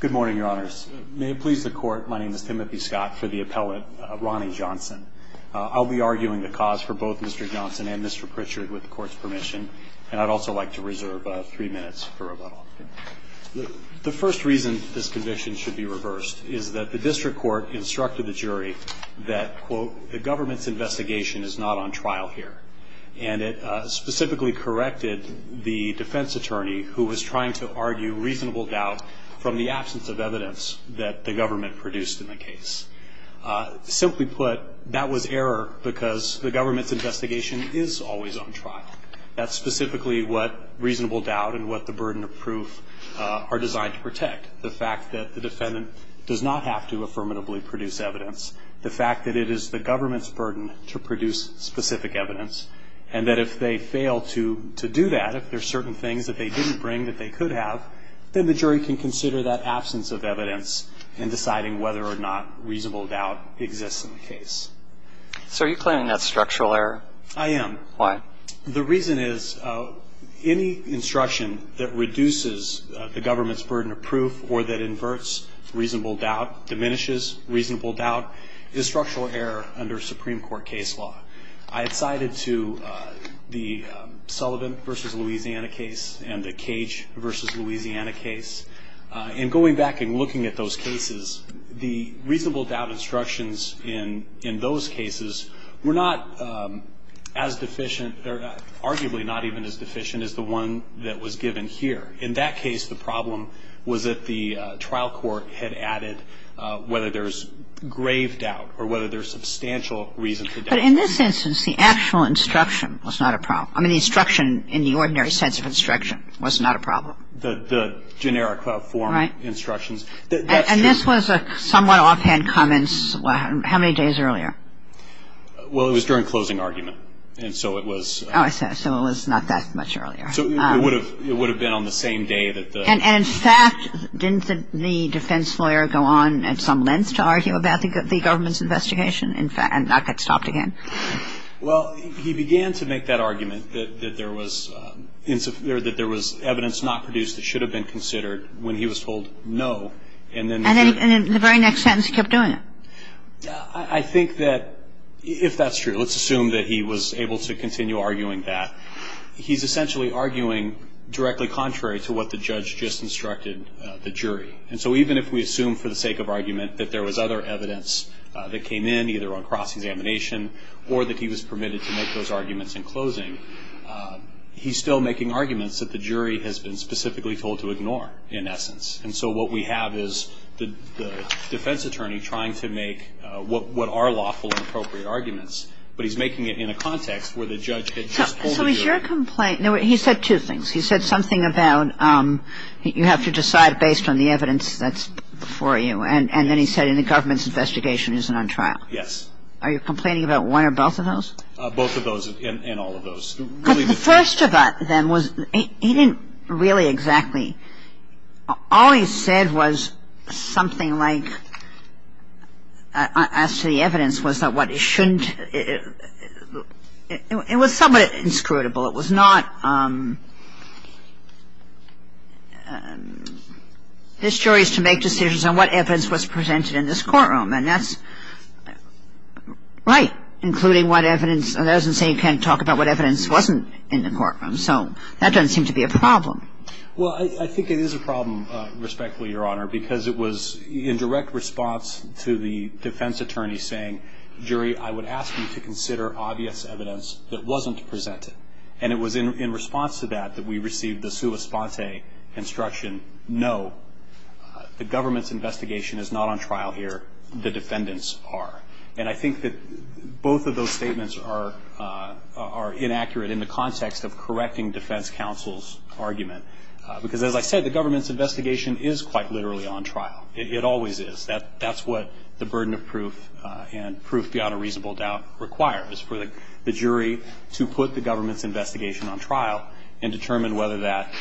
Good morning, your honors. May it please the court, my name is Timothy Scott for the appellate Ronnie Johnson. I'll be arguing the cause for both Mr. Johnson and Mr. Pritchard with the court's permission, and I'd also like to reserve three minutes for rebuttal. The first reason this conviction should be reversed is that the district court instructed the jury that, quote, the government's investigation is not on trial here. And it specifically corrected the defense attorney who was trying to argue reasonable doubt from the absence of evidence that the government produced in the case. Simply put, that was error because the government's investigation is always on trial. That's specifically what reasonable doubt and what the burden of proof are designed to protect. The fact that the defendant does not have to affirmatively produce evidence, the fact that it is the government's burden to produce specific evidence, and that if they fail to do that, if there are certain things that they didn't bring that they could have, then the jury can consider that absence of evidence in deciding whether or not reasonable doubt exists in the case. So are you claiming that's structural error? I am. Why? The reason is any instruction that reduces the government's burden of proof or that inverts reasonable doubt, diminishes reasonable doubt, is structural error under Supreme Court case law. I had cited to the Sullivan v. Louisiana case and the Cage v. Louisiana case. In going back and looking at those cases, the reasonable doubt instructions in those cases were not as deficient, arguably not even as deficient as the one that was given here. In that case, the problem was that the trial court had added whether there's grave doubt or whether there's substantial reason for doubt. But in this instance, the actual instruction was not a problem. I mean, the instruction in the ordinary sense of instruction was not a problem. The generic form instructions. Right. And this was a somewhat offhand comment. How many days earlier? Well, it was during closing argument. And so it was... Oh, I see. So it was not that much earlier. So it would have been on the same day that the... And in fact, didn't the defense lawyer go on at some length to argue about the government's investigation and not get stopped again? Well, he began to make that argument that there was evidence not produced that should have been considered when he was told no. And then... And in the very next sentence he kept doing it. I think that, if that's true, let's assume that he was able to continue arguing that. He's essentially arguing directly contrary to what the judge just instructed the jury. And so even if we assume for the sake of argument that there was other evidence that came in, either on cross-examination or that he was permitted to make those arguments in closing, he's still making arguments that the jury has been specifically told to ignore, in essence. And so what we have is the defense attorney trying to make what are lawful and appropriate arguments, but he's making it in a context where the judge had just told the jury. So is your complaint... He said two things. He said something about you have to decide based on the evidence that's before you. And then he said the government's investigation isn't on trial. Yes. Are you complaining about one or both of those? Both of those and all of those. But the first of them was he didn't really exactly... All he said was something like, as to the evidence, was that what he shouldn't... It was somewhat inscrutable. It was not... This jury is to make decisions on what evidence was presented in this courtroom. And that's right, including what evidence... That doesn't say you can't talk about what evidence wasn't in the courtroom. So that doesn't seem to be a problem. Well, I think it is a problem, respectfully, Your Honor, because it was in direct response to the defense attorney saying, Jury, I would ask you to consider obvious evidence that wasn't presented. And it was in response to that that we received the sua sponte instruction, No, the government's investigation is not on trial here. The defendants are. And I think that both of those statements are inaccurate in the context of correcting defense counsel's argument. Because, as I said, the government's investigation is quite literally on trial. It always is. That's what the burden of proof and proof beyond a reasonable doubt requires, for the jury to put the government's investigation on trial and determine whether that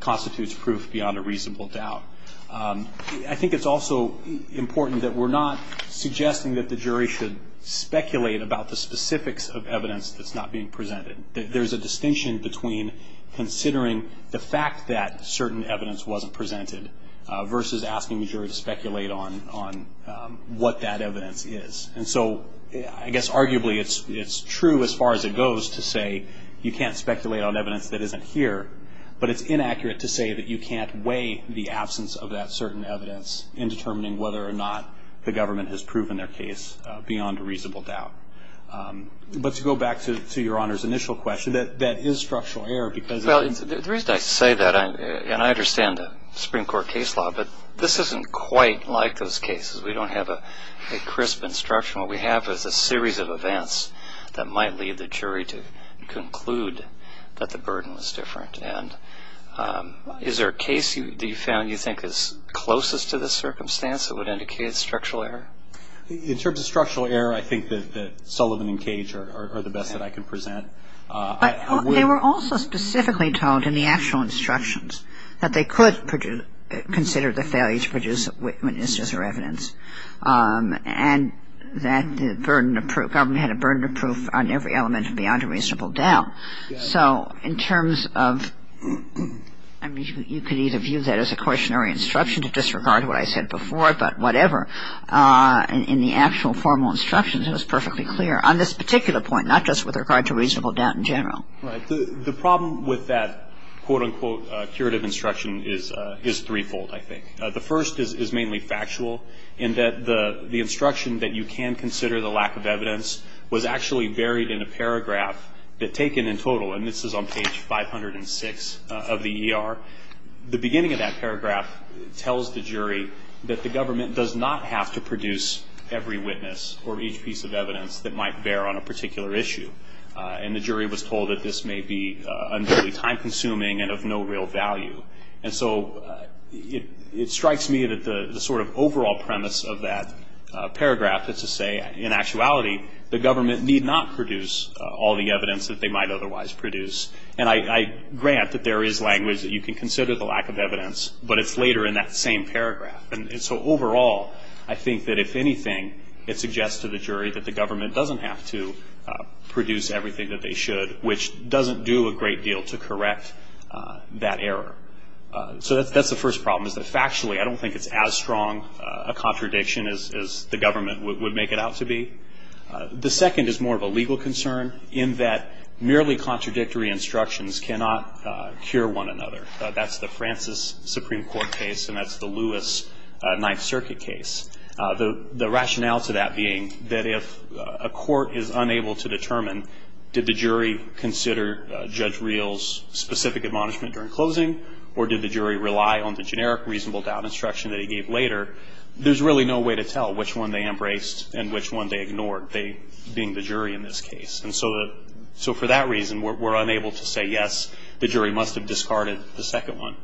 constitutes proof beyond a reasonable doubt. I think it's also important that we're not suggesting that the jury should speculate about the specifics of evidence that's not being presented. There's a distinction between considering the fact that certain evidence wasn't presented versus asking the jury to speculate on what that evidence is. And so I guess arguably it's true as far as it goes to say you can't speculate on evidence that isn't here. But it's inaccurate to say that you can't weigh the absence of that certain evidence in determining whether or not the government has proven their case beyond a reasonable doubt. But to go back to Your Honor's initial question, that is structural error because The reason I say that, and I understand the Supreme Court case law, but this isn't quite like those cases. We don't have a crisp instruction. What we have is a series of events that might lead the jury to conclude that the burden was different. And is there a case that you found you think is closest to this circumstance that would indicate structural error? In terms of structural error, I think that Sullivan and Cage are the best that I can present. They were also specifically told in the actual instructions that they could consider the failure to produce witnesses or evidence and that the government had a burden of proof on every element beyond a reasonable doubt. So in terms of, I mean, you could either view that as a cautionary instruction to disregard what I said before, but whatever. In the actual formal instructions, it was perfectly clear on this particular point, not just with regard to reasonable doubt in general. Right. The problem with that, quote, unquote, curative instruction is threefold, I think. The first is mainly factual in that the instruction that you can consider the lack of evidence was actually buried in a paragraph that taken in total. And this is on page 506 of the ER. The beginning of that paragraph tells the jury that the government does not have to produce every witness or each piece of evidence that might bear on a particular issue. And the jury was told that this may be time-consuming and of no real value. And so it strikes me that the sort of overall premise of that paragraph, it's to say in actuality the government need not produce all the evidence that they might otherwise produce. And I grant that there is language that you can consider the lack of evidence, but it's later in that same paragraph. And so overall, I think that if anything, it suggests to the jury that the government doesn't have to produce everything that they should, which doesn't do a great deal to correct that error. So that's the first problem is that factually I don't think it's as strong a contradiction as the government would make it out to be. The second is more of a legal concern in that merely contradictory instructions cannot cure one another. That's the Francis Supreme Court case, and that's the Lewis Ninth Circuit case. The rationale to that being that if a court is unable to determine, did the jury consider Judge Reel's specific admonishment during closing or did the jury rely on the generic reasonable doubt instruction that he gave later, there's really no way to tell which one they embraced and which one they ignored, they being the jury in this case. And so for that reason, we're unable to say, yes, the jury must have discarded the second one.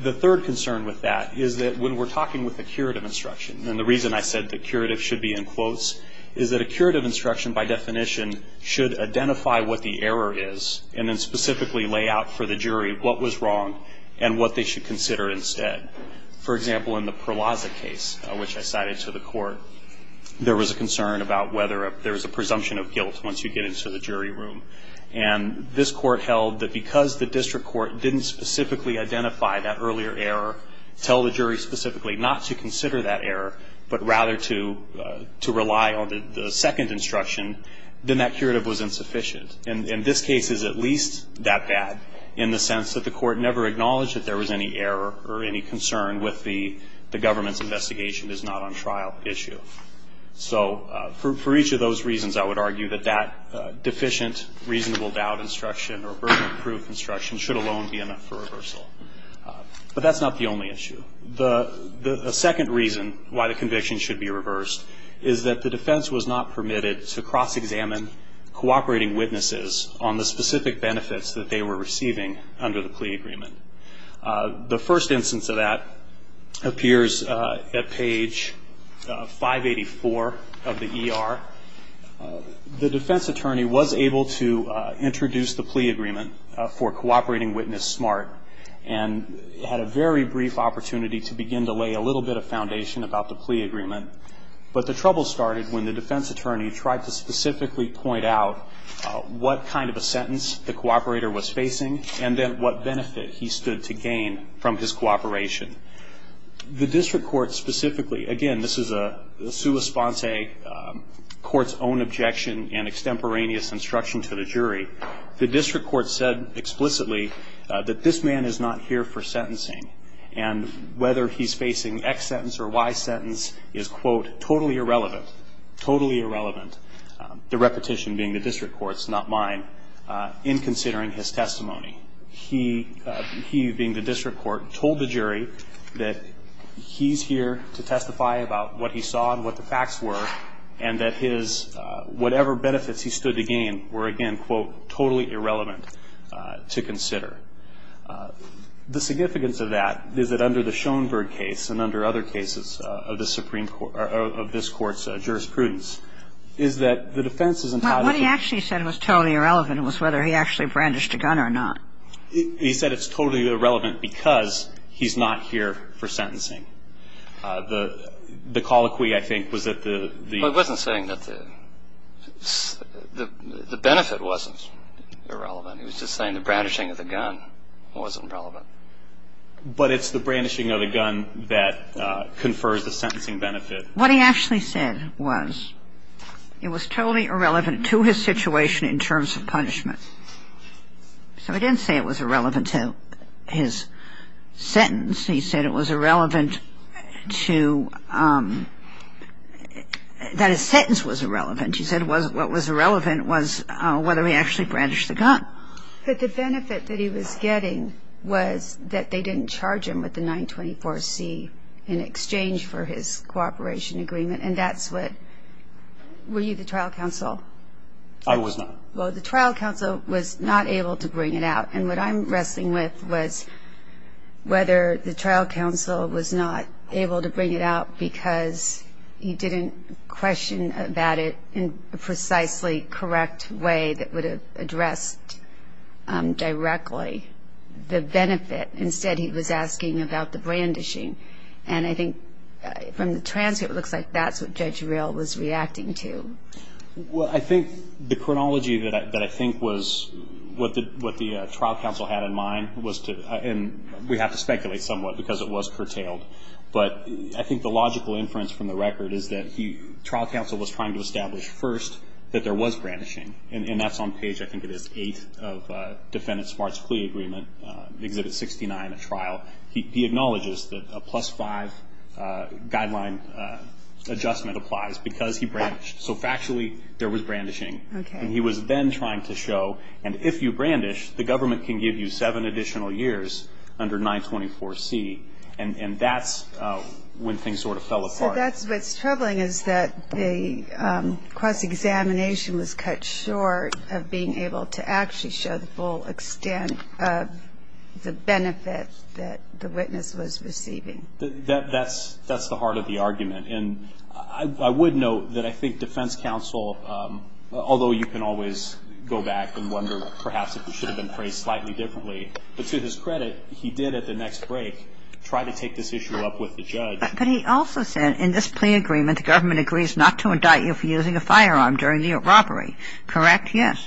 The third concern with that is that when we're talking with a curative instruction, and the reason I said the curative should be in quotes, is that a curative instruction by definition should identify what the error is and then specifically lay out for the jury what was wrong and what they should consider instead. For example, in the Perlazza case, which I cited to the court, there was a concern about whether there was a presumption of guilt once you get into the jury room. And this court held that because the district court didn't specifically identify that earlier error, tell the jury specifically not to consider that error, but rather to rely on the second instruction, then that curative was insufficient. And this case is at least that bad in the sense that the court never acknowledged that there was any error or any concern with the government's investigation is not on trial issue. So for each of those reasons, I would argue that that deficient reasonable doubt instruction or burden of proof instruction should alone be enough for reversal. But that's not the only issue. The second reason why the conviction should be reversed is that the defense was not permitted to cross-examine cooperating witnesses on the specific benefits that they were receiving under the plea agreement. The first instance of that appears at page 584 of the ER. The defense attorney was able to introduce the plea agreement for cooperating witness smart and had a very brief opportunity to begin to lay a little bit of foundation about the plea agreement. But the trouble started when the defense attorney tried to specifically point out what kind of a sentence the cooperator was facing and then what benefit he stood to gain from his cooperation. The district court specifically, again, this is a sua sponsae court's own objection and extemporaneous instruction to the jury. The district court said explicitly that this man is not here for sentencing and whether he's facing X sentence or Y sentence is, quote, totally irrelevant, totally irrelevant, the repetition being the district court's, not mine, in considering his testimony. He, being the district court, told the jury that he's here to testify about what he saw and what the facts were and that his whatever benefits he stood to gain were, again, quote, totally irrelevant to consider. The significance of that is that under the Schoenberg case and under other cases of this court's jurisprudence is that the defense is entitled to Well, what he actually said was totally irrelevant was whether he actually brandished a gun or not. He said it's totally irrelevant because he's not here for sentencing. The colloquy, I think, was that the Well, he wasn't saying that the benefit wasn't irrelevant. He was just saying the brandishing of the gun wasn't relevant. But it's the brandishing of the gun that confers the sentencing benefit. What he actually said was it was totally irrelevant to his situation in terms of punishment. So he didn't say it was irrelevant to his sentence. He said it was irrelevant to that his sentence was irrelevant. He said what was irrelevant was whether he actually brandished the gun. But the benefit that he was getting was that they didn't charge him with the 924C in exchange for his cooperation agreement, and that's what Were you the trial counsel? I was not. Well, the trial counsel was not able to bring it out. And what I'm wrestling with was whether the trial counsel was not able to bring it out because he didn't question about it in a precisely correct way that would have addressed directly the benefit. Instead, he was asking about the brandishing. And I think from the transcript, it looks like that's what Judge Real was reacting to. Well, I think the chronology that I think was what the trial counsel had in mind was to And we have to speculate somewhat because it was curtailed. But I think the logical inference from the record is that the trial counsel was trying to establish first that there was brandishing. And that's on page, I think it is, 8 of Defendant Smart's plea agreement, Exhibit 69 of trial. He acknowledges that a plus 5 guideline adjustment applies because he brandished. So factually, there was brandishing. Okay. And he was then trying to show, and if you brandish, the government can give you seven additional years under 924C. And that's when things sort of fell apart. So that's what's troubling is that the cross-examination was cut short of being able to actually show the full extent of the benefit that the witness was receiving. That's the heart of the argument. And I would note that I think defense counsel, although you can always go back and wonder perhaps if it should have been phrased slightly differently, but to his credit, he did at the next break try to take this issue up with the judge. But he also said in this plea agreement, the government agrees not to indict you for using a firearm during the robbery. Correct? Yes.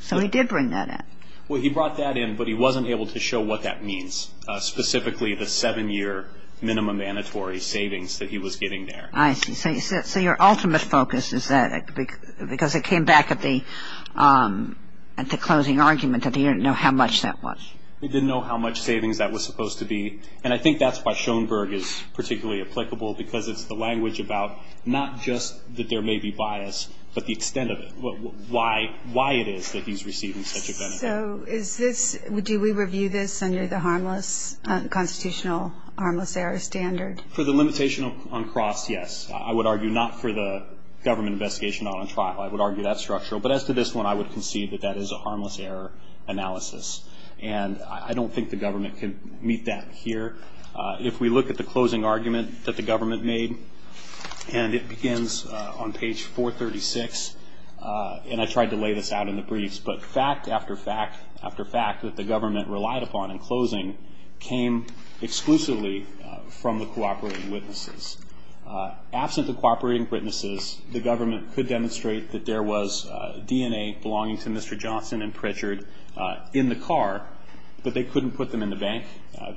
So he did bring that in. Well, he brought that in, but he wasn't able to show what that means, specifically the seven-year minimum mandatory savings that he was giving there. I see. So your ultimate focus is that, because it came back at the closing argument that he didn't know how much that was. He didn't know how much savings that was supposed to be. And I think that's why Schoenberg is particularly applicable, because it's the language about not just that there may be bias, but the extent of it, why it is that he's receiving such a benefit. So is this, do we review this under the harmless, constitutional harmless error standard? For the limitation on cross, yes. I would argue not for the government investigation on a trial. I would argue that's structural. But as to this one, I would concede that that is a harmless error analysis. And I don't think the government can meet that here. If we look at the closing argument that the government made, and it begins on page 436, and I tried to lay this out in the briefs, but fact after fact after fact that the government relied upon in closing came exclusively from the cooperating witnesses. Absent the cooperating witnesses, the government could demonstrate that there was DNA belonging to Mr. Johnson and Pritchard in the car, but they couldn't put them in the bank.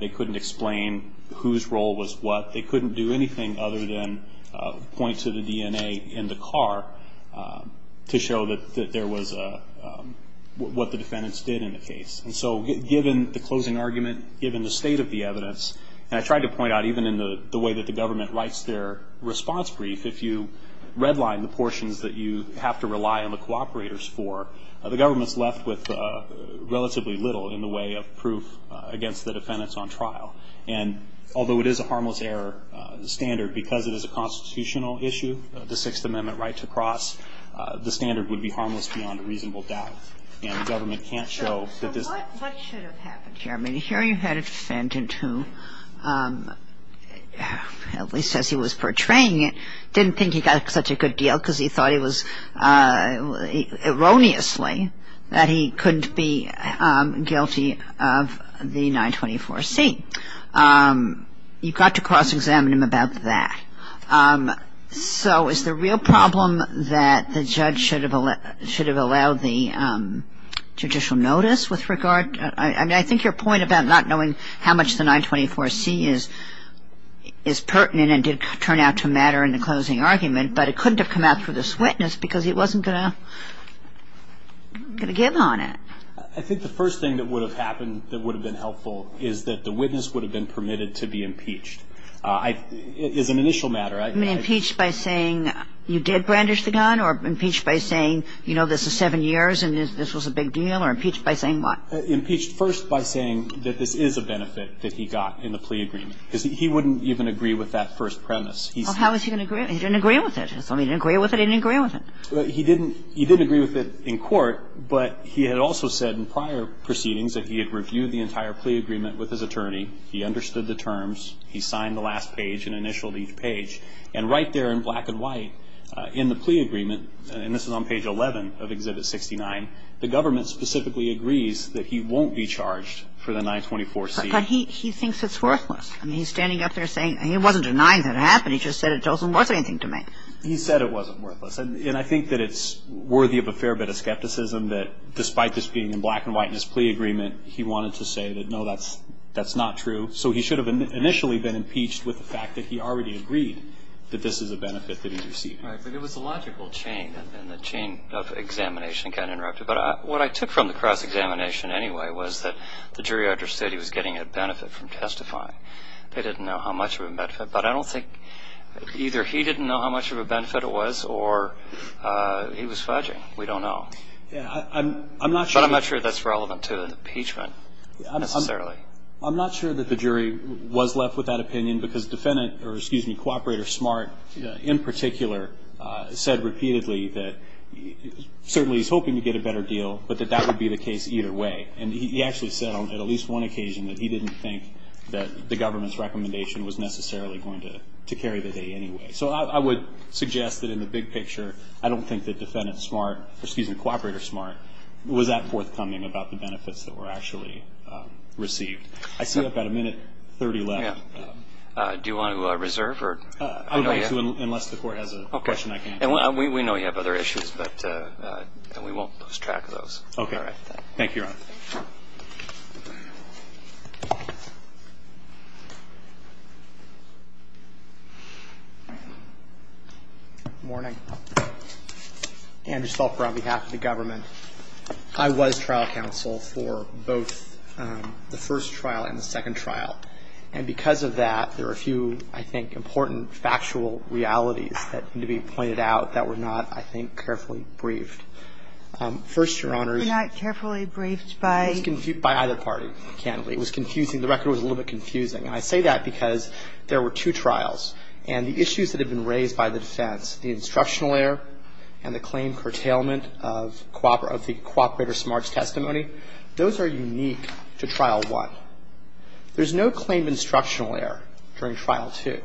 They couldn't explain whose role was what. They couldn't do anything other than point to the DNA in the car to show that there was a, what the defendants did in the case. And so given the closing argument, given the state of the evidence, and I tried to point out even in the way that the government writes their response brief, if you redline the portions that you have to rely on the cooperators for, the government's left with relatively little in the way of proof against the defendants on trial. And although it is a harmless error standard, because it is a constitutional issue, the Sixth Amendment right to cross, the standard would be harmless beyond a reasonable doubt. So what should have happened here? I mean, here you had a defendant who, at least as he was portraying it, didn't think he got such a good deal because he thought it was erroneously that he couldn't be guilty of the 924C. You've got to cross-examine him about that. So is the real problem that the judge should have allowed the judicial notice with regard? I mean, I think your point about not knowing how much the 924C is pertinent and did turn out to matter in the closing argument, but it couldn't have come out through this witness because he wasn't going to give on it. I think the first thing that would have happened that would have been helpful is that the witness would have been permitted to be impeached. It is an initial matter. You mean impeached by saying you did brandish the gun or impeached by saying, you know, this is seven years and this was a big deal, or impeached by saying what? Impeached first by saying that this is a benefit that he got in the plea agreement because he wouldn't even agree with that first premise. Well, how was he going to agree? He didn't agree with it. He didn't agree with it. He didn't agree with it. He didn't agree with it in court, but he had also said in prior proceedings that he had reviewed the entire plea agreement with his attorney. He understood the terms. He signed the last page and initialed each page. And right there in black and white in the plea agreement, and this is on page 11 of Exhibit 69, the government specifically agrees that he won't be charged for the 924C. But he thinks it's worthless. I mean, he's standing up there saying he wasn't denying that it happened. He just said it wasn't worth anything to make. He said it wasn't worthless. And I think that it's worthy of a fair bit of skepticism that despite this being in black and white in his plea agreement, he wanted to say that, no, that's not true. So he should have initially been impeached with the fact that he already agreed that this is a benefit that he received. Right. But it was a logical chain, and the chain of examination got interrupted. But what I took from the cross-examination anyway was that the jury understood he was getting a benefit from testifying. They didn't know how much of a benefit. But I don't think either he didn't know how much of a benefit it was or he was fudging. We don't know. Yeah. I'm not sure. But I'm not sure that's relevant to an impeachment necessarily. I'm not sure that the jury was left with that opinion because Co-operator Smart, in particular, said repeatedly that certainly he's hoping to get a better deal, but that that would be the case either way. And he actually said on at least one occasion that he didn't think that the government's recommendation was necessarily going to carry the day anyway. So I would suggest that in the big picture, I don't think that Co-operator Smart was that forthcoming about the benefits that were actually received. I see about a minute 30 left. Yeah. Do you want to reserve? I would like to unless the Court has a question I can't answer. Okay. And we know you have other issues, but we won't lose track of those. Okay. All right. Thank you, Your Honor. Good morning. Andrew Stolper on behalf of the government. I was trial counsel for both the first trial and the second trial. And because of that, there are a few, I think, important factual realities that need to be pointed out that were not, I think, carefully briefed. First, Your Honor. Were not carefully briefed by? By either party. It was confusing. The record was a little bit confusing. And I say that because there were two trials. And the issues that had been raised by the defense, the instructional error and the claim for the curtailment of the Cooperator Smart's testimony, those are unique to Trial 1. There's no claim of instructional error during Trial 2.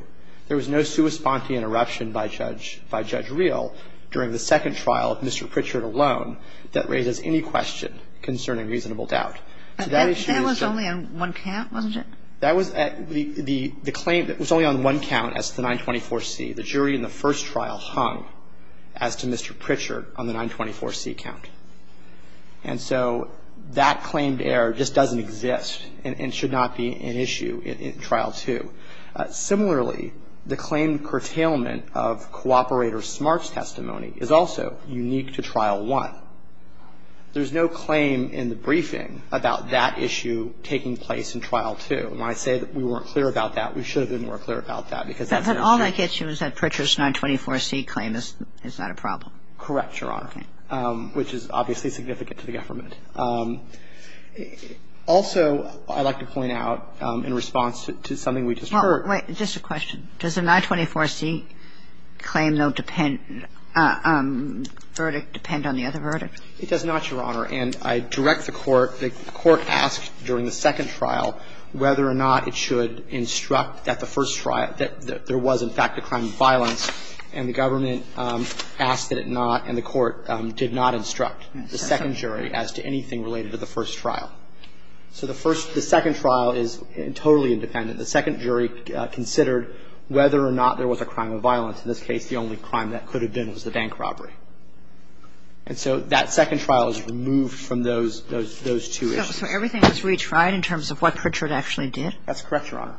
There was no sua sponte interruption by Judge Reel during the second trial of Mr. Pritchard alone that raises any question concerning reasonable doubt. So that issue is just. That was only on one count, wasn't it? That was at the claim. It was only on one count as to the 924C. The jury in the first trial hung as to Mr. Pritchard on the 924C count. And so that claimed error just doesn't exist and should not be an issue in Trial 2. Similarly, the claim curtailment of Cooperator Smart's testimony is also unique to Trial 1. There's no claim in the briefing about that issue taking place in Trial 2. And when I say that we weren't clear about that, we should have been more clear about that because that's an issue. But all I get you is that Pritchard's 924C claim is not a problem. Correct, Your Honor. Okay. Which is obviously significant to the government. Also, I'd like to point out in response to something we just heard. Well, wait. Just a question. Does the 924C claim, though, depend verdict, depend on the other verdict? It does not, Your Honor. And I direct the Court, the Court asked during the second trial whether or not it should instruct that the first trial, that there was, in fact, a crime of violence. And the government asked that it not, and the Court did not instruct the second jury as to anything related to the first trial. So the first, the second trial is totally independent. The second jury considered whether or not there was a crime of violence. In this case, the only crime that could have been was the bank robbery. And so that second trial is removed from those two issues. So everything was retried in terms of what Pritchard actually did? That's correct, Your Honor.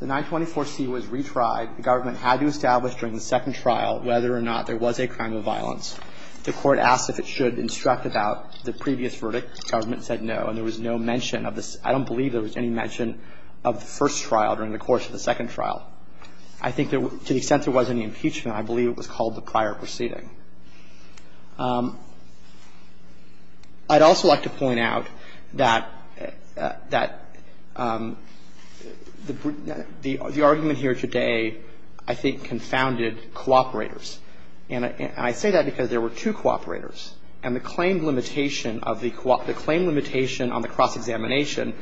The 924C was retried. The government had to establish during the second trial whether or not there was a crime of violence. The Court asked if it should instruct about the previous verdict. The government said no. And there was no mention of the – I don't believe there was any mention of the first trial during the course of the second trial. I think there – to the extent there was any impeachment, I believe it was called the prior proceeding. I'd also like to point out that the argument here today I think confounded cooperators. And I say that because there were two cooperators, and the claim limitation of the – the claim limitation on the cross-examination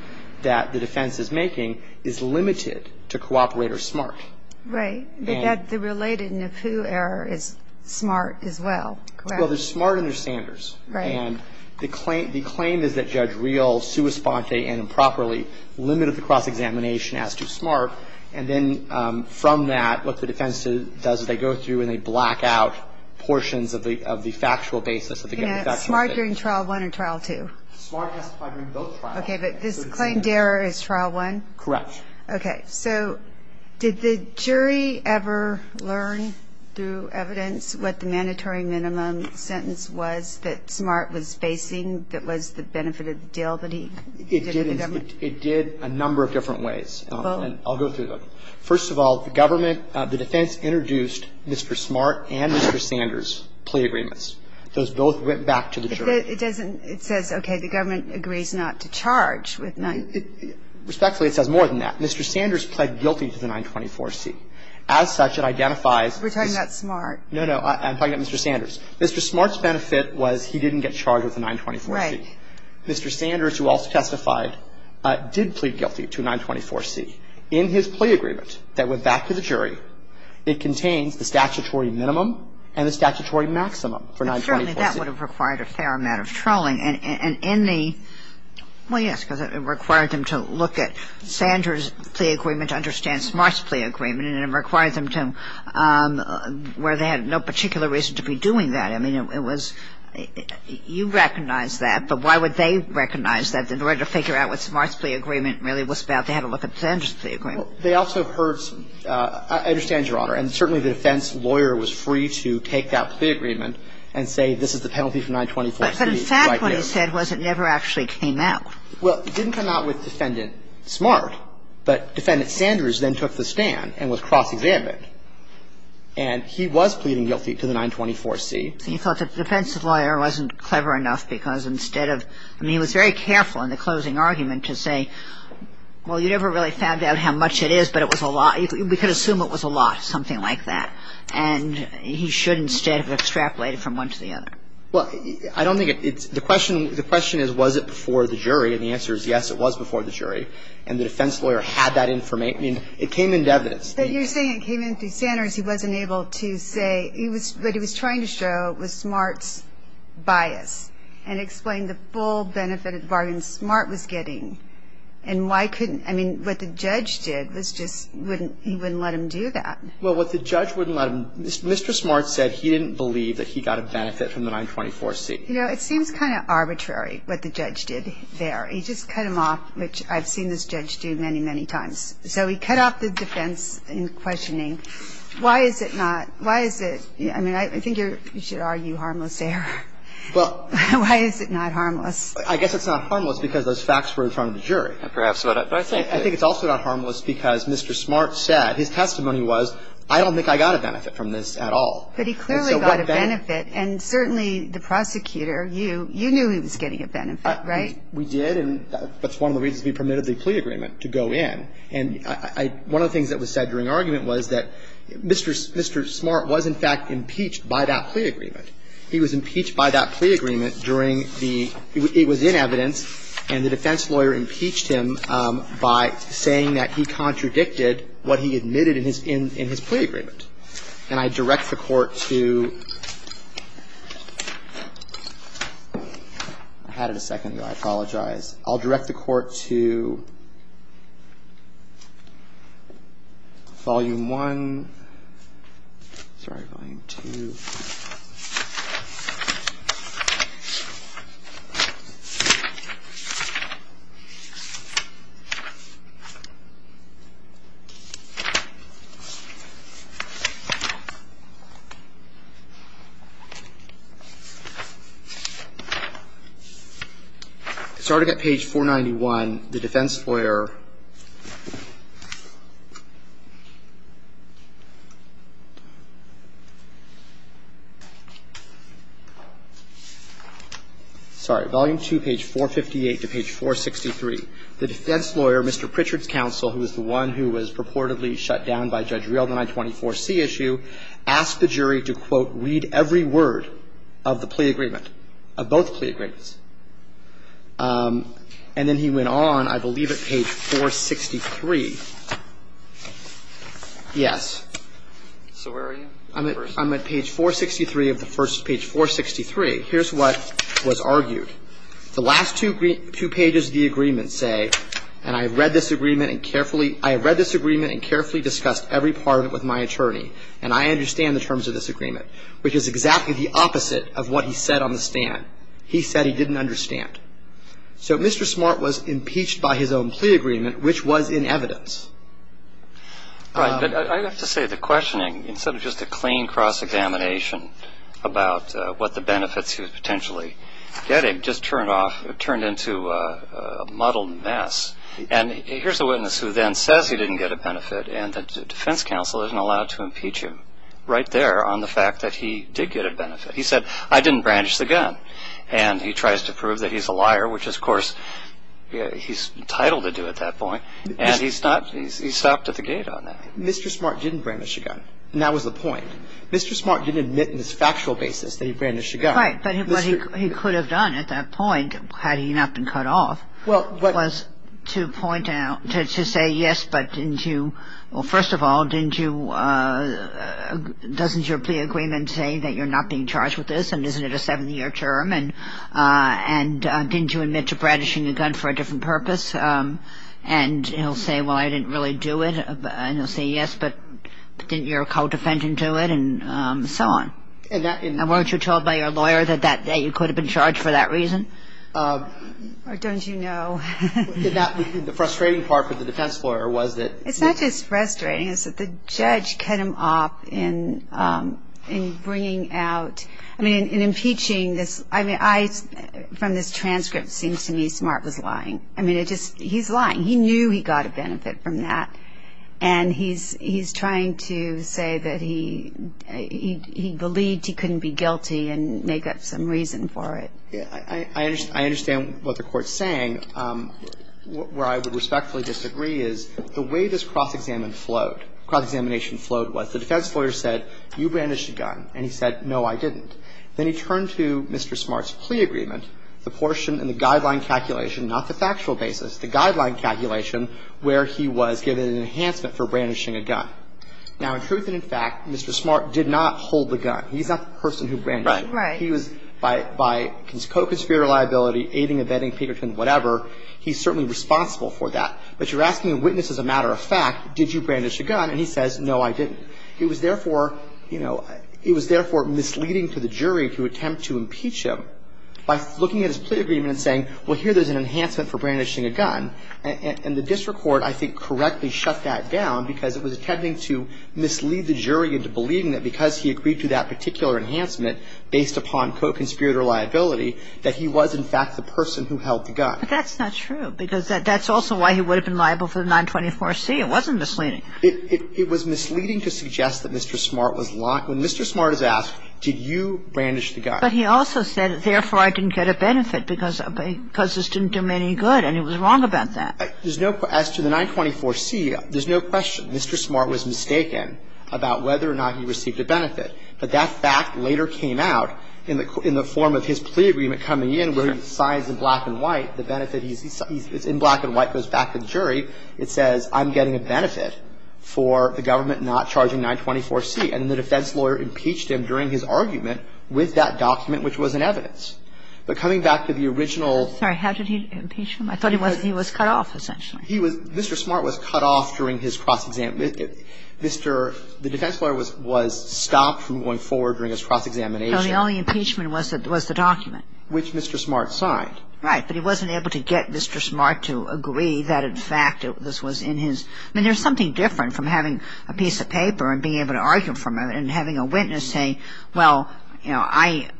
that the defense is making is limited to cooperator smart. Right. But that – the related NAPU error is smart as well, correct? Well, they're smart understanders. Right. And the claim is that Judge Real, sua sponte, and improperly limited the cross-examination as to smart. And then from that, what the defense does is they go through and they black out portions of the factual basis of the government's factual evidence. You mean smart during trial one or trial two? Smart has to apply during both trials. Okay. But this claimed error is trial one? Correct. Okay. So did the jury ever learn through evidence what the mandatory minimum sentence was that smart was facing that was the benefit of the deal that he did with the government? It did a number of different ways. I'll go through them. First of all, the government – the defense introduced Mr. Smart and Mr. Sanders plea agreements. Those both went back to the jury. It doesn't – it says, okay, the government agrees not to charge with none. It – respectfully, it says more than that. Mr. Sanders pled guilty to the 924C. As such, it identifies – We're talking about Smart. No, no. I'm talking about Mr. Sanders. Mr. Smart's benefit was he didn't get charged with the 924C. Right. Mr. Sanders, who also testified, did plead guilty to 924C. In his plea agreement that went back to the jury, it contains the statutory minimum and the statutory maximum for 924C. And certainly that would have required a fair amount of trolling. And in the – well, yes, because it required them to look at Sanders' plea agreement to understand Smart's plea agreement, and it required them to – where they had no particular reason to be doing that. I mean, it was – you recognize that, but why would they recognize that? In order to figure out what Smart's plea agreement really was about, they had to look at Sanders' plea agreement. Well, they also heard – I understand, Your Honor, and certainly the defense lawyer was free to take that plea agreement and say this is the penalty for 924C. But in fact, what he said was it never actually came out. Well, it didn't come out with Defendant Smart, but Defendant Sanders then took the stand and was cross-examined. And he was pleading guilty to the 924C. He thought the defense lawyer wasn't clever enough because instead of – I mean, he was very careful in the closing argument to say, well, you never really found out how much it is, but it was a lot. We could assume it was a lot, something like that. And he should instead have extrapolated from one to the other. Well, I don't think it's – the question is, was it before the jury? And the answer is yes, it was before the jury. And the defense lawyer had that information. I mean, it came in evidence. But you're saying it came in through Sanders. He wasn't able to say – what he was trying to show was Smart's bias and explain the full benefit of the bargain Smart was getting. And why couldn't – I mean, what the judge did was just wouldn't – he wouldn't let him do that. Well, what the judge wouldn't let him – Mr. Smart said he didn't believe that he got a benefit from the 924C. You know, it seems kind of arbitrary what the judge did there. He just cut him off, which I've seen this judge do many, many times. So he cut off the defense in questioning. Why is it not – why is it – I mean, I think you should argue harmless error. Well – Why is it not harmless? I guess it's not harmless because those facts were in front of the jury. Perhaps, but I think – I think it's also not harmless because Mr. Smart said – his testimony was, I don't think I got a benefit from this at all. But he clearly got a benefit, and certainly the prosecutor, you – you knew he was getting a benefit, right? We did, and that's one of the reasons we permitted the plea agreement to go in. And I – one of the things that was said during argument was that Mr. Smart was, in fact, impeached by that plea agreement. He was impeached by that plea agreement during the – it was in evidence, and the defense lawyer impeached him by saying that he contradicted what he admitted in his – in his plea agreement. And I direct the court to – I had it a second ago. I apologize. Starting at Page 491, the defense lawyer – sorry, volume two, page 458 to page 463. The defense lawyer, Mr. Pritchard's counsel, who is the one who was purportedly shut down by Judge Riel in the 924C issue, asked the jury to, quote, read every word of the plea agreement, of both plea agreements. And then he went on, I believe, at Page 463. Yes. So where are you? I'm at Page 463 of the first – Page 463. Here's what was argued. The last two pages of the agreement say, and I read this agreement and carefully – I read this agreement and carefully discussed every part of it with my attorney, and I understand the terms of this agreement, which is exactly the opposite of what he said on the stand. He said he didn't understand. So Mr. Smart was impeached by his own plea agreement, which was in evidence. Right. But I have to say, the questioning, instead of just a clean cross-examination about what the benefits he was potentially getting, just turned off – turned into a muddled mess. And here's a witness who then says he didn't get a benefit, and the defense counsel isn't allowed to impeach him right there on the fact that he did get a benefit. He said, I didn't brandish the gun. And he tries to prove that he's a liar, which, of course, he's entitled to do at that point. And he's not – he's stopped at the gate on that. Mr. Smart didn't brandish a gun. And that was the point. Mr. Smart didn't admit on this factual basis that he brandished a gun. Right. But what he could have done at that point, had he not been cut off, was to point out – to say, yes, but didn't you – well, first of all, didn't you – doesn't your plea agreement say that you're not being charged with this and isn't it a seven-year term? And didn't you admit to brandishing a gun for a different purpose? And he'll say, well, I didn't really do it. And he'll say, yes, but didn't your co-defendant do it? And so on. And weren't you told by your lawyer that that day you could have been charged for that reason? Or don't you know? The frustrating part for the defense lawyer was that – It's not just frustrating. It's that the judge cut him off in bringing out – I mean, in impeaching this – I mean, I – from this transcript, it seems to me Smart was lying. I mean, it just – he's lying. He knew he got a benefit from that. And he's trying to say that he believed he couldn't be guilty and make up some reason for it. I understand what the Court's saying. Where I would respectfully disagree is the way this cross-examination flowed was the defense lawyer said, you brandished a gun. And he said, no, I didn't. Then he turned to Mr. Smart's plea agreement, the portion in the guideline calculation, not the factual basis, the guideline calculation where he was given an enhancement for brandishing a gun. Now, in truth and in fact, Mr. Smart did not hold the gun. He's not the person who brandished it. He was – by co-conspirator liability, aiding, abetting, Peterton, whatever, he's certainly responsible for that. But you're asking a witness as a matter of fact, did you brandish a gun? And he says, no, I didn't. He was therefore – you know, he was therefore misleading to the jury to attempt to impeach him by looking at his plea agreement and saying, well, here, there's an enhancement for brandishing a gun. And the district court, I think, correctly shut that down because it was attempting to mislead the jury into believing that because he agreed to that particular enhancement based upon co-conspirator liability, that he was in fact the person who held the gun. But that's not true because that's also why he would have been liable for the 924C. It wasn't misleading. It was misleading to suggest that Mr. Smart was – when Mr. Smart is asked, did you brandish the gun? But he also said, therefore, I didn't get a benefit because this didn't do me any And so that's why he was not charged with that. There's no – as to the 924C, there's no question Mr. Smart was mistaken about whether or not he received a benefit. But that fact later came out in the form of his plea agreement coming in where he signs in black and white the benefit. He's – in black and white goes back to the jury. It says, I'm getting a benefit for the government not charging 924C. And the defense lawyer impeached him during his argument with that document, which was in evidence. But coming back to the original – Sorry, how did he impeach him? I thought he was cut off, essentially. He was – Mr. Smart was cut off during his cross-examination. Mr. – the defense lawyer was stopped from going forward during his cross-examination. So the only impeachment was the document. Which Mr. Smart signed. Right. But he wasn't able to get Mr. Smart to agree that, in fact, this was in his – I mean, there's something different from having a piece of paper and being able to argue from it and having a witness say, well, you know, I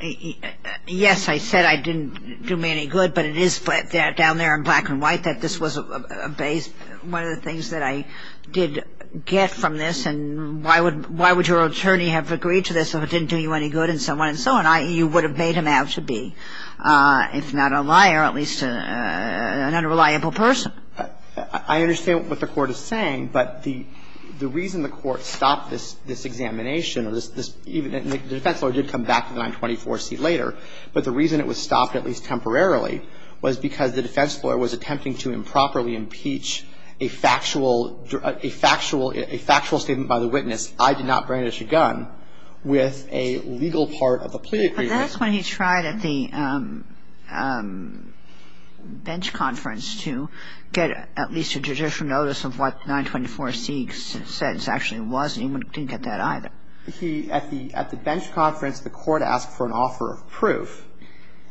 – yes, I said I didn't do me any good, but it is down there in black and white that this was a base – one of the things that I did get from this. And why would – why would your attorney have agreed to this if it didn't do you any good and so on and so on? You would have made him out to be, if not a liar, at least an unreliable person. I understand what the Court is saying, but the reason the Court stopped this examination or this – even the defense lawyer did come back to 924C later, but the reason it was stopped, at least temporarily, was because the defense lawyer was attempting to improperly impeach a factual – a factual statement by the witness, I did not brandish a gun, with a legal part of a plea agreement. But that's when he tried at the bench conference to get at least a judicial notice of what 924C said it actually was, and he didn't get that either. He – at the – at the bench conference, the Court asked for an offer of proof.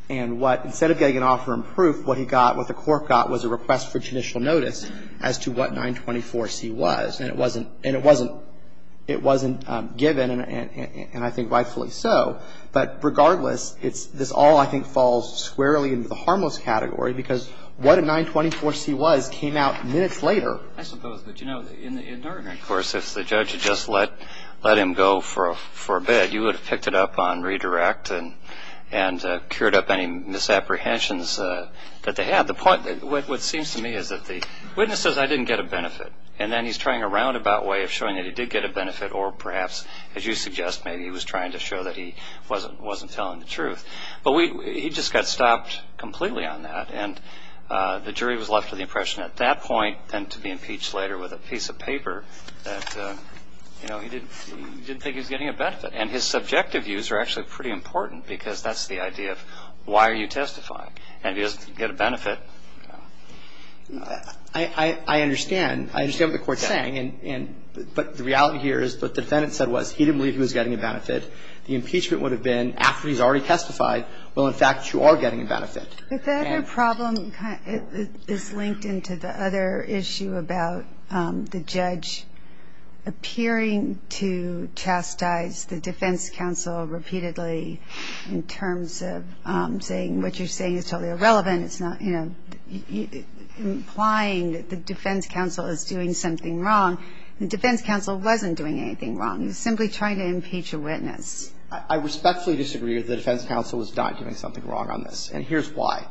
And what – instead of getting an offer of proof, what he got, what the Court got, was a request for judicial notice as to what 924C was. And it wasn't – and it wasn't – it wasn't given, and I think rightfully so, but regardless, it's – this all, I think, falls squarely into the harmless category because what a 924C was came out minutes later. I suppose. But, you know, in the enduring course, if the judge had just let – let him go for a – for a bit, you would have picked it up on redirect and – and cured up any misapprehensions that they had. The point – what seems to me is that the witness says, I didn't get a benefit, and then he's trying a roundabout way of showing that he did get a benefit or perhaps, as you suggest, maybe he was trying to show that he wasn't – wasn't telling the truth. But we – he just got stopped completely on that, and the jury was left with the impression at that point and to be impeached later with a piece of paper that, you know, he didn't – he didn't think he was getting a benefit. And his subjective views are actually pretty important because that's the idea of why are you testifying? And if he doesn't get a benefit, you know. I – I understand. I understand what the Court's saying. But the reality here is what the defendant said was he didn't believe he was getting a benefit. The impeachment would have been after he's already testified, well, in fact, you are getting a benefit. But that problem is linked into the other issue about the judge appearing to chastise the defense counsel repeatedly in terms of saying what you're saying is totally irrelevant. It's not, you know, implying that the defense counsel is doing something wrong. The defense counsel wasn't doing anything wrong. He was simply trying to impeach a witness. I respectfully disagree that the defense counsel was not doing something wrong on this, and here's why.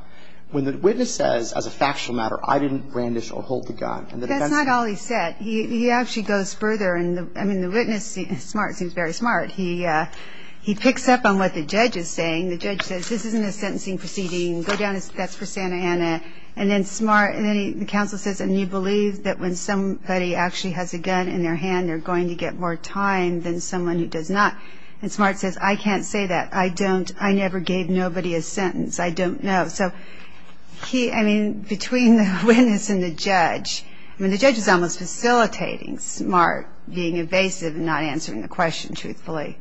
When the witness says, as a factual matter, I didn't brandish or hold the gun. That's not all he said. He actually goes further, and the – I mean, the witness is smart. He's very smart. He picks up on what the judge is saying. The judge says, this isn't a sentencing proceeding. Go down, that's for Santa Ana. And then smart – and then the counsel says, and you believe that when somebody actually has a gun in their hand, they're going to get more time than someone who does not. And smart says, I can't say that. I don't – I never gave nobody a sentence. I don't know. So he – I mean, between the witness and the judge, I mean, the judge is almost facilitating smart being evasive and not answering the question truthfully.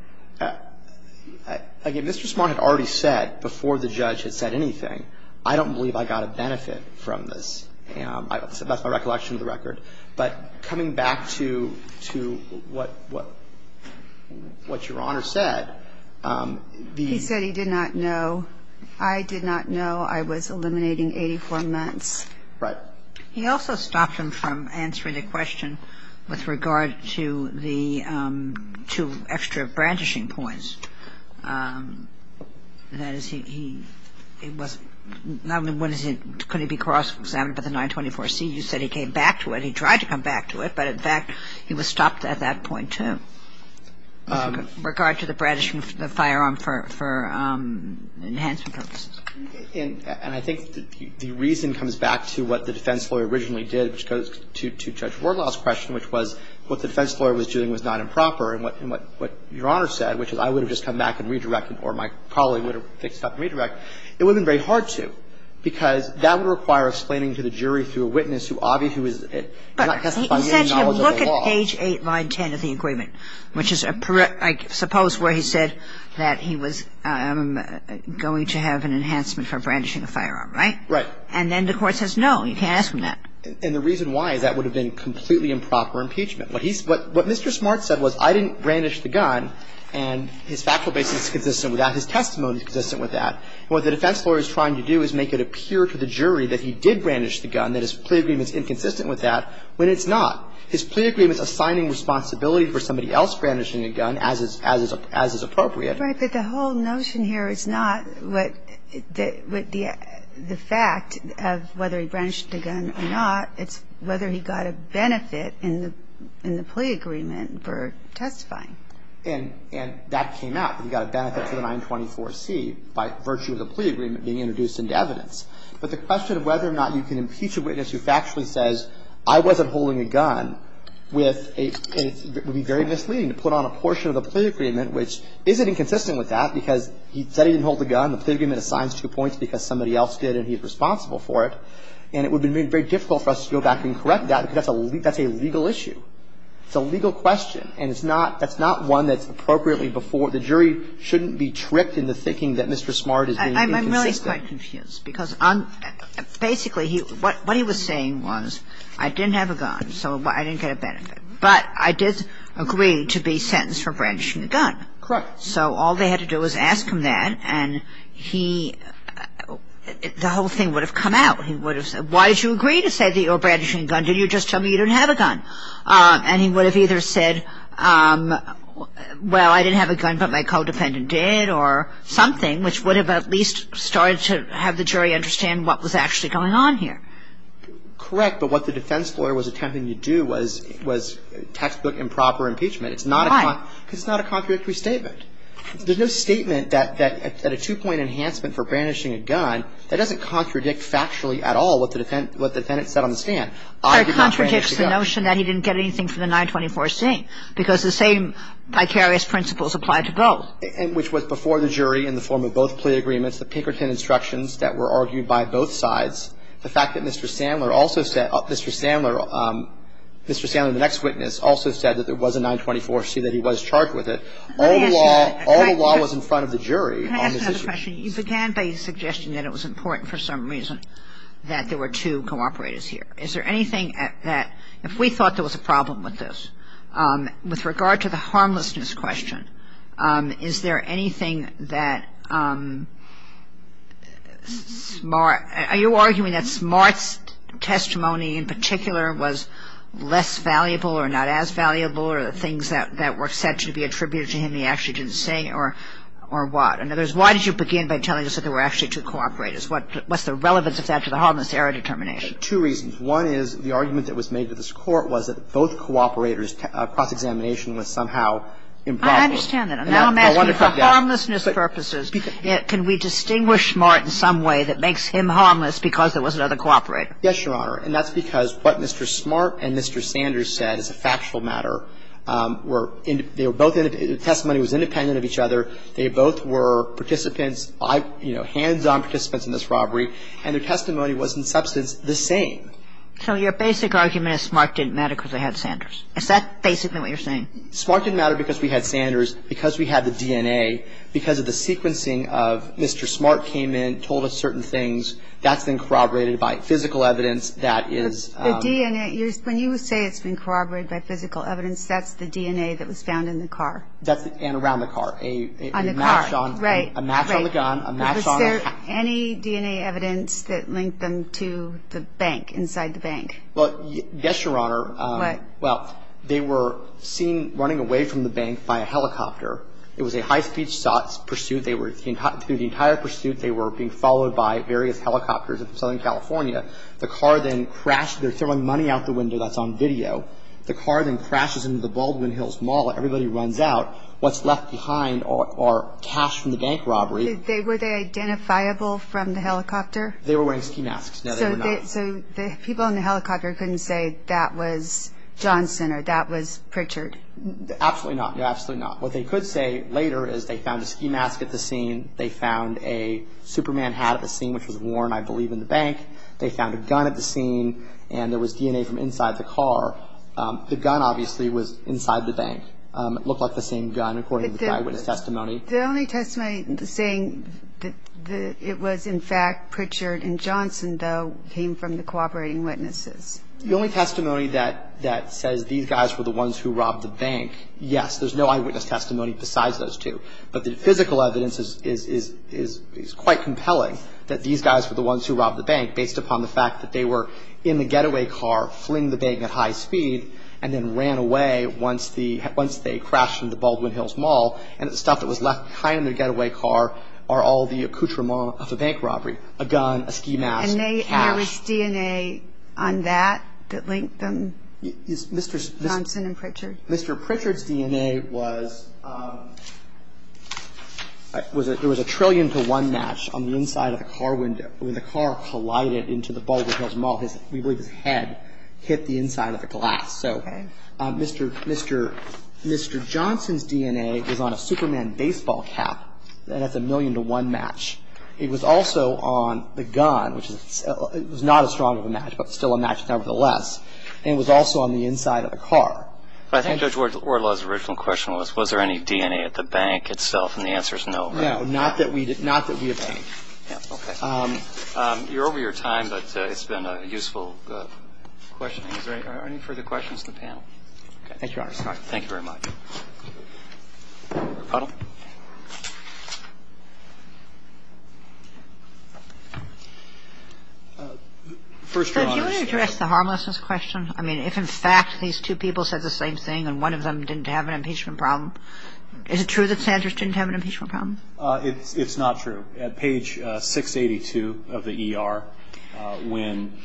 Again, Mr. Smart had already said before the judge had said anything, I don't believe I got a benefit from this. That's my recollection of the record. But coming back to what Your Honor said, the – He said he did not know. I did not know. I was eliminating 84 months. Right. He also stopped him from answering the question with regard to the – to extra brandishing points. That is, he – it was – not only couldn't he be cross-examined by the 924C. You said he came back to it. He tried to come back to it. But in fact, he was stopped at that point, too, with regard to the brandishing of the firearm for enhancement purposes. And I think the reason comes back to what the defense lawyer originally did, which goes to Judge Wardlaw's question, which was what the defense lawyer was doing was not improper. And what Your Honor said, which is I would have just come back and redirected or my colleague would have fixed up and redirected, it would have been very hard to, because that would require explaining to the jury through a witness who obviously was not testifying to any knowledge of the law. But he said to him, look at page 8, line 10 of the agreement, which is a – I suppose where he said that he was going to have an enhancement for brandishing a firearm, right? Right. And then the Court says, no, you can't ask him that. And the reason why is that would have been completely improper impeachment. What he's – what Mr. Smart said was I didn't brandish the gun, and his factual basis is consistent with that, his testimony is consistent with that. And what the defense lawyer is trying to do is make it appear to the jury that he did brandish the gun, that his plea agreement is inconsistent with that, when it's not. His plea agreement is assigning responsibility for somebody else brandishing a gun as is appropriate. But the whole notion here is not what the fact of whether he brandished the gun or not. It's whether he got a benefit in the plea agreement for testifying. And that came out, that he got a benefit for the 924C by virtue of the plea agreement being introduced into evidence. But the question of whether or not you can impeach a witness who factually says I wasn't holding a gun with a – would be very misleading to put on a portion of the plea agreement which isn't inconsistent with that because he said he didn't hold the gun, the plea agreement assigns two points because somebody else did and he's responsible for it. And it would have been very difficult for us to go back and correct that because that's a – that's a legal issue. It's a legal question. And it's not – that's not one that's appropriately before – the jury shouldn't be tricked into thinking that Mr. Smart is being inconsistent. I'm really quite confused because basically he – what he was saying was I didn't have a gun, so I didn't get a benefit. But I did agree to be sentenced for brandishing a gun. Correct. So all they had to do was ask him that and he – the whole thing would have come out. He would have said, why did you agree to say that you were brandishing a gun? Did you just tell me you didn't have a gun? And he would have either said, well, I didn't have a gun but my codependent did or something, which would have at least started to have the jury understand what was actually going on here. Correct. But what the defense lawyer was attempting to do was – was textbook improper impeachment. It's not a – Why? Because it's not a contradictory statement. There's no statement that – that a two-point enhancement for brandishing a gun that doesn't contradict factually at all what the defendant – what the defendant said on the stand. I did not brandish a gun. But it contradicts the notion that he didn't get anything for the 924C because the same vicarious principles apply to both. And which was before the jury in the form of both plea agreements, the Pinkerton instructions that were argued by both sides, the fact that Mr. Sandler also said – Mr. Sandler – Mr. Sandler, the next witness, also said that there was a 924C, that he was charged with it. All the law – all the law was in front of the jury on this issue. You began by suggesting that it was important for some reason that there were two cooperators here. Is there anything that – if we thought there was a problem with this, with regard to the harmlessness question, is there anything that – are you arguing that Smart's testimony in particular was less valuable or not as valuable, or the things that were said to be attributed to him he actually didn't say, or what? And in other words, why did you begin by telling us that there were actually two cooperators? What's the relevance of that to the harmlessness error determination? Two reasons. One is the argument that was made to this Court was that both cooperators' cross-examination was somehow improper. I understand that. And now I'm asking for harmlessness purposes, can we distinguish Smart in some way that makes him harmless because there was another cooperator? Yes, Your Honor. And that's because what Mr. Smart and Mr. Sanders said is a factual matter. They were both – the testimony was independent of each other. They both were participants, hands-on participants in this robbery, and their testimony was in substance the same. So your basic argument is Smart didn't matter because they had Sanders. Is that basically what you're saying? Smart didn't matter because we had Sanders, because we had the DNA, because of the sequencing of Mr. Smart came in, told us certain things. That's been corroborated by physical evidence that is – The DNA – when you say it's been corroborated by physical evidence, that's the DNA that was found in the car. And around the car. On the car, right. A match on the gun, a match on the – Was there any DNA evidence that linked them to the bank, inside the bank? Well, yes, Your Honor. What? Well, they were seen running away from the bank by a helicopter. It was a high-speed pursuit. They were – through the entire pursuit, they were being followed by various helicopters in Southern California. The car then crashed – they're throwing money out the window that's on video. The car then crashes into the Baldwin Hills Mall. Everybody runs out. What's left behind are cash from the bank robbery. Were they identifiable from the helicopter? They were wearing ski masks. No, they were not. So the people in the helicopter couldn't say that was Johnson or that was Pritchard? Absolutely not. Absolutely not. What they could say later is they found a ski mask at the scene. They found a Superman hat at the scene, which was worn, I believe, in the bank. They found a gun at the scene. And there was DNA from inside the car. The gun, obviously, was inside the bank. It looked like the same gun according to the eyewitness testimony. The only testimony saying that it was, in fact, Pritchard and Johnson, though, came from the cooperating witnesses. The only testimony that says these guys were the ones who robbed the bank, yes. There's no eyewitness testimony besides those two. But the physical evidence is quite compelling that these guys were the ones who robbed the bank based upon the fact that they were in the getaway car, fling the bank at high speed, and then ran away once they crashed into Baldwin Hills Mall. And the stuff that was left behind in the getaway car are all the accoutrements of the bank robbery, a gun, a ski mask, cash. And there was DNA on that that linked them, Johnson and Pritchard? Mr. Pritchard's DNA was a trillion to one match on the inside of the car window that was being used to light it into the Baldwin Hills Mall. We believe his head hit the inside of the glass. Okay. So Mr. Johnson's DNA was on a Superman baseball cap. That's a million to one match. It was also on the gun, which was not as strong of a match, but still a match nevertheless. And it was also on the inside of the car. But I think Judge Orlow's original question was, was there any DNA at the bank itself? And the answer is no, correct? No, not that we obtained. Okay. You're over your time, but it's been a useful questioning. Is there any further questions from the panel? Thank you, Your Honor. Sorry. Thank you very much. Repuddle. First, Your Honor. Do you want to address the harmlessness question? I mean, if in fact these two people said the same thing and one of them didn't have an impeachment problem, is it true that Sanders didn't have an impeachment problem? It's not true. At page 682 of the ER, when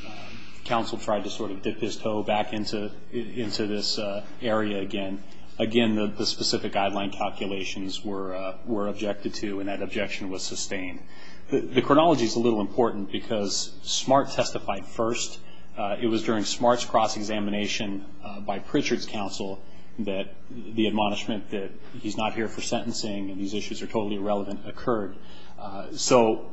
counsel tried to sort of dip his toe back into this area again, again the specific guideline calculations were objected to, and that objection was sustained. The chronology is a little important because Smart testified first. It was during Smart's cross-examination by Pritchard's counsel that the admonishment that he's not here for sentencing and these issues are totally irrelevant occurred. So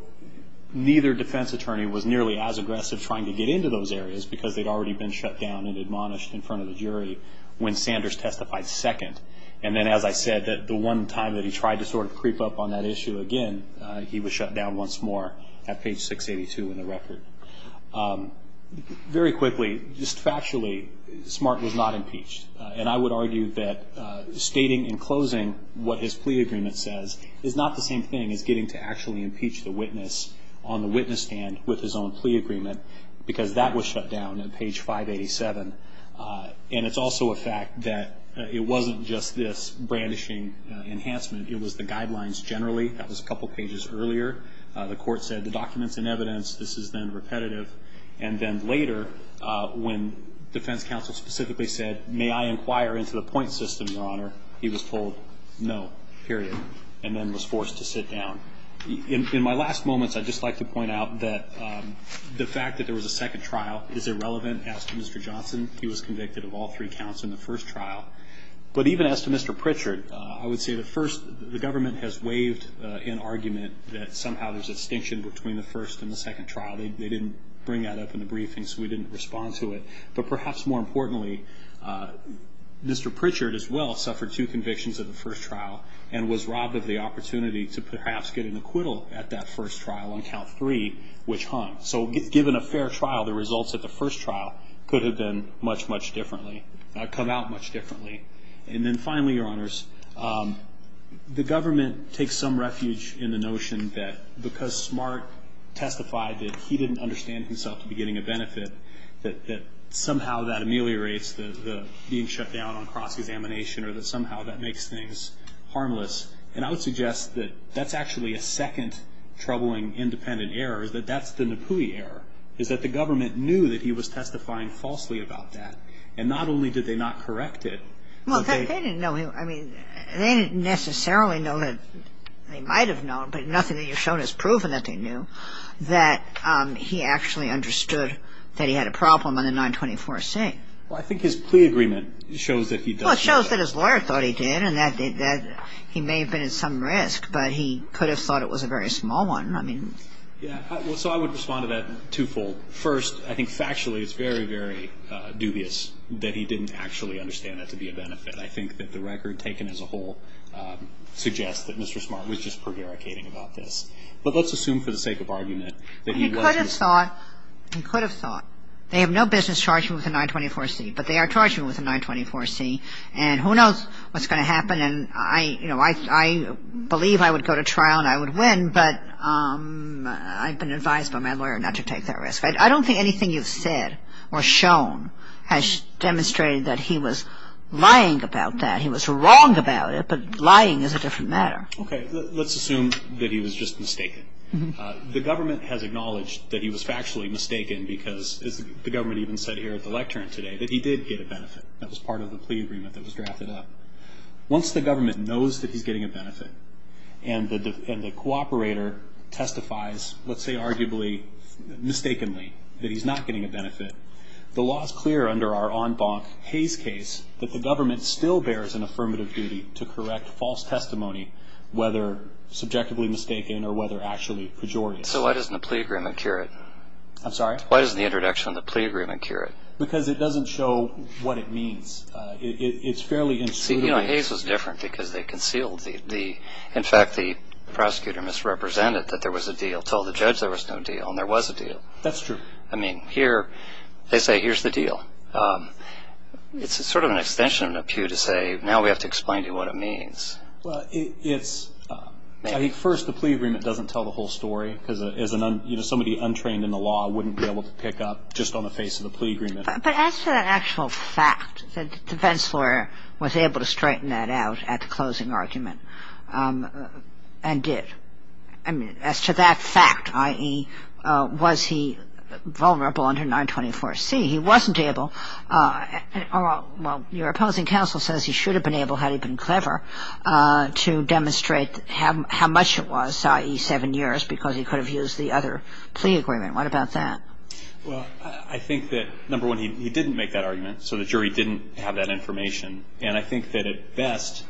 neither defense attorney was nearly as aggressive trying to get into those areas because they'd already been shut down and admonished in front of the jury when Sanders testified second. And then, as I said, the one time that he tried to sort of creep up on that issue again, he was shut down once more at page 682 in the record. Very quickly, just factually, Smart was not impeached. And I would argue that stating in closing what his plea agreement says is not the same thing as getting to actually impeach the witness on the witness stand with his own plea agreement because that was shut down at page 587. And it's also a fact that it wasn't just this brandishing enhancement. It was the guidelines generally. That was a couple pages earlier. The court said the document's in evidence. This is then repetitive. And then later, when defense counsel specifically said, may I inquire into the point system, Your Honor, he was told no, period, and then was forced to sit down. In my last moments, I'd just like to point out that the fact that there was a second trial is irrelevant. As to Mr. Johnson, he was convicted of all three counts in the first trial. But even as to Mr. Pritchard, I would say the first, the government has waived an argument that somehow there's a distinction between the first and the second trial. They didn't bring that up in the briefing, so we didn't respond to it. But perhaps more importantly, Mr. Pritchard as well suffered two convictions at the first trial and was robbed of the opportunity to perhaps get an acquittal at that first trial on count three, which hung. So given a fair trial, the results at the first trial could have been much, much differently, come out much differently. And then finally, Your Honors, the government takes some refuge in the notion that because Smart testified that he didn't understand himself to be getting a benefit, that somehow that ameliorates the being shut down on cross-examination or that somehow that makes things harmless. And I would suggest that that's actually a second troubling independent error, is that that's the Napui error, is that the government knew that he was testifying falsely about that. And not only did they not correct it, but they... Well, they didn't know. I mean, they didn't necessarily know that they might have known, but nothing that you've shown has proven that they knew, that he actually understood that he had a problem on the 924C. Well, I think his plea agreement shows that he does know that. Well, it shows that his lawyer thought he did and that he may have been at some risk, but he could have thought it was a very small one. I mean... Yeah, well, so I would respond to that twofold. First, I think factually it's very, very dubious that he didn't actually understand that to be a benefit. I think that the record taken as a whole suggests that Mr. Smart was just prevaricating about this. But let's assume for the sake of argument that he wasn't... He could have thought. He could have thought. They have no business charging him with a 924C, but they are charging him with a 924C. And who knows what's going to happen. And I, you know, I believe I would go to trial and I would win, but I've been advised by my lawyer not to take that risk. I don't think anything you've said or shown has demonstrated that he was lying about that. He was wrong about it, but lying is a different matter. Okay. Let's assume that he was just mistaken. The government has acknowledged that he was factually mistaken because the government even said here at the lectern today that he did get a benefit. That was part of the plea agreement that was drafted up. Once the government knows that he's getting a benefit and the cooperator testifies, let's say arguably mistakenly, that he's not getting a benefit, the law is clear under our en banc Hayes case that the government still bears an affirmative duty to correct false testimony, whether subjectively mistaken or whether actually pejorative. So why doesn't the plea agreement cure it? I'm sorry? Why doesn't the introduction of the plea agreement cure it? Because it doesn't show what it means. It's fairly insubordinate. You know, Hayes was different because they concealed the, in fact, the prosecutor misrepresented that there was a deal, told the judge there was no deal, and there was a deal. That's true. I mean, here, they say here's the deal. It's sort of an extension of an appeal to say now we have to explain to you what it means. Well, it's, I think first the plea agreement doesn't tell the whole story because somebody untrained in the law wouldn't be able to pick up just on the face of the plea agreement. But as to the actual fact that the defense lawyer was able to straighten that out at the closing argument and did, I mean, as to that fact, i.e., was he vulnerable under 924C, he wasn't able. Well, your opposing counsel says he should have been able, had he been clever, to demonstrate how much it was, i.e., seven years, because he could have used the other plea agreement. What about that? Well, I think that, number one, he didn't make that argument. So the jury didn't have that information. And I think that at best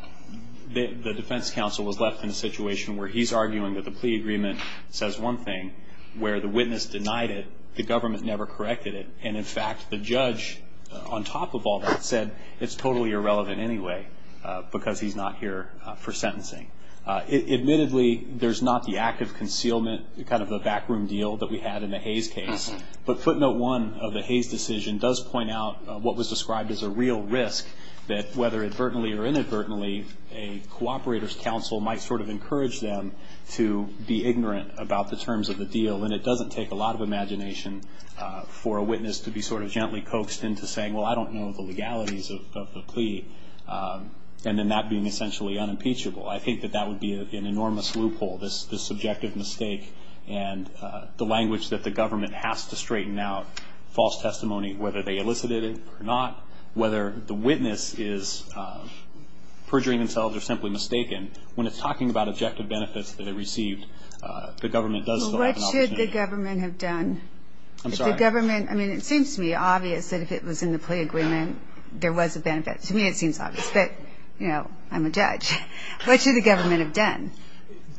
the defense counsel was left in a situation where he's arguing that the plea agreement says one thing, where the witness denied it, the government never corrected it, and, in fact, the judge, on top of all that, said it's totally irrelevant anyway because he's not here for sentencing. Admittedly, there's not the act of concealment, kind of the backroom deal that we had in the Hayes case. But footnote one of the Hayes decision does point out what was described as a real risk, that whether advertently or inadvertently, a cooperator's counsel might sort of encourage them to be ignorant about the terms of the deal. And it doesn't take a lot of imagination for a witness to be sort of gently coaxed into saying, well, I don't know the legalities of the plea, and then that being essentially unimpeachable. I think that that would be an enormous loophole, this subjective mistake. And the language that the government has to straighten out, false testimony, whether they elicited it or not, whether the witness is perjuring themselves or simply mistaken, when it's talking about objective benefits that they received, the government does still have an opportunity. Well, what should the government have done? I'm sorry? The government, I mean, it seems to me obvious that if it was in the plea agreement there was a benefit. To me it seems obvious. But, you know, I'm a judge. What should the government have done?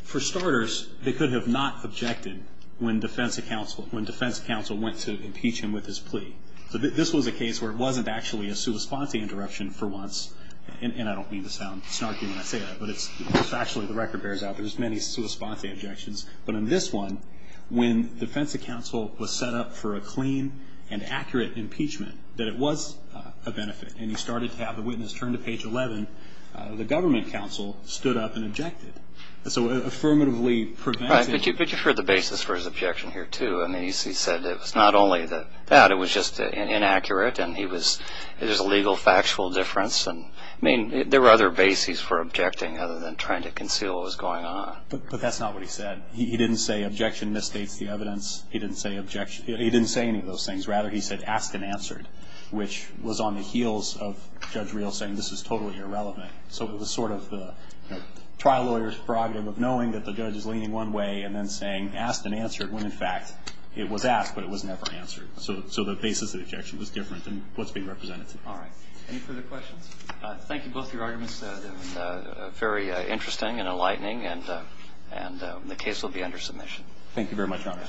For starters, they could have not objected when defense counsel went to impeach him with his plea. This was a case where it wasn't actually a sua sponte interruption for once. And I don't mean to sound snarky when I say that, but it's actually the record bears out there's many sua sponte interruptions. But in this one, when defense counsel was set up for a clean and accurate impeachment, that it was a benefit, and he started to have the witness turn to page 11, the government counsel stood up and objected. So affirmatively preventing. But you've heard the basis for his objection here, too. I mean, he said it was not only that, it was just inaccurate and it was a legal factual difference. I mean, there were other bases for objecting other than trying to conceal what was going on. But that's not what he said. He didn't say objection misstates the evidence. He didn't say objection. He didn't say any of those things. Rather, he said asked and answered, which was on the heels of Judge Rios saying this is totally irrelevant. So it was sort of the trial lawyer's prerogative of knowing that the judge is leaning one way and then saying asked and answered when, in fact, it was asked but it was never answered. So the basis of the objection was different than what's being represented. All right. Any further questions? Thank you. Both your arguments have been very interesting and enlightening. And the case will be under submission. Thank you very much, Your Honor.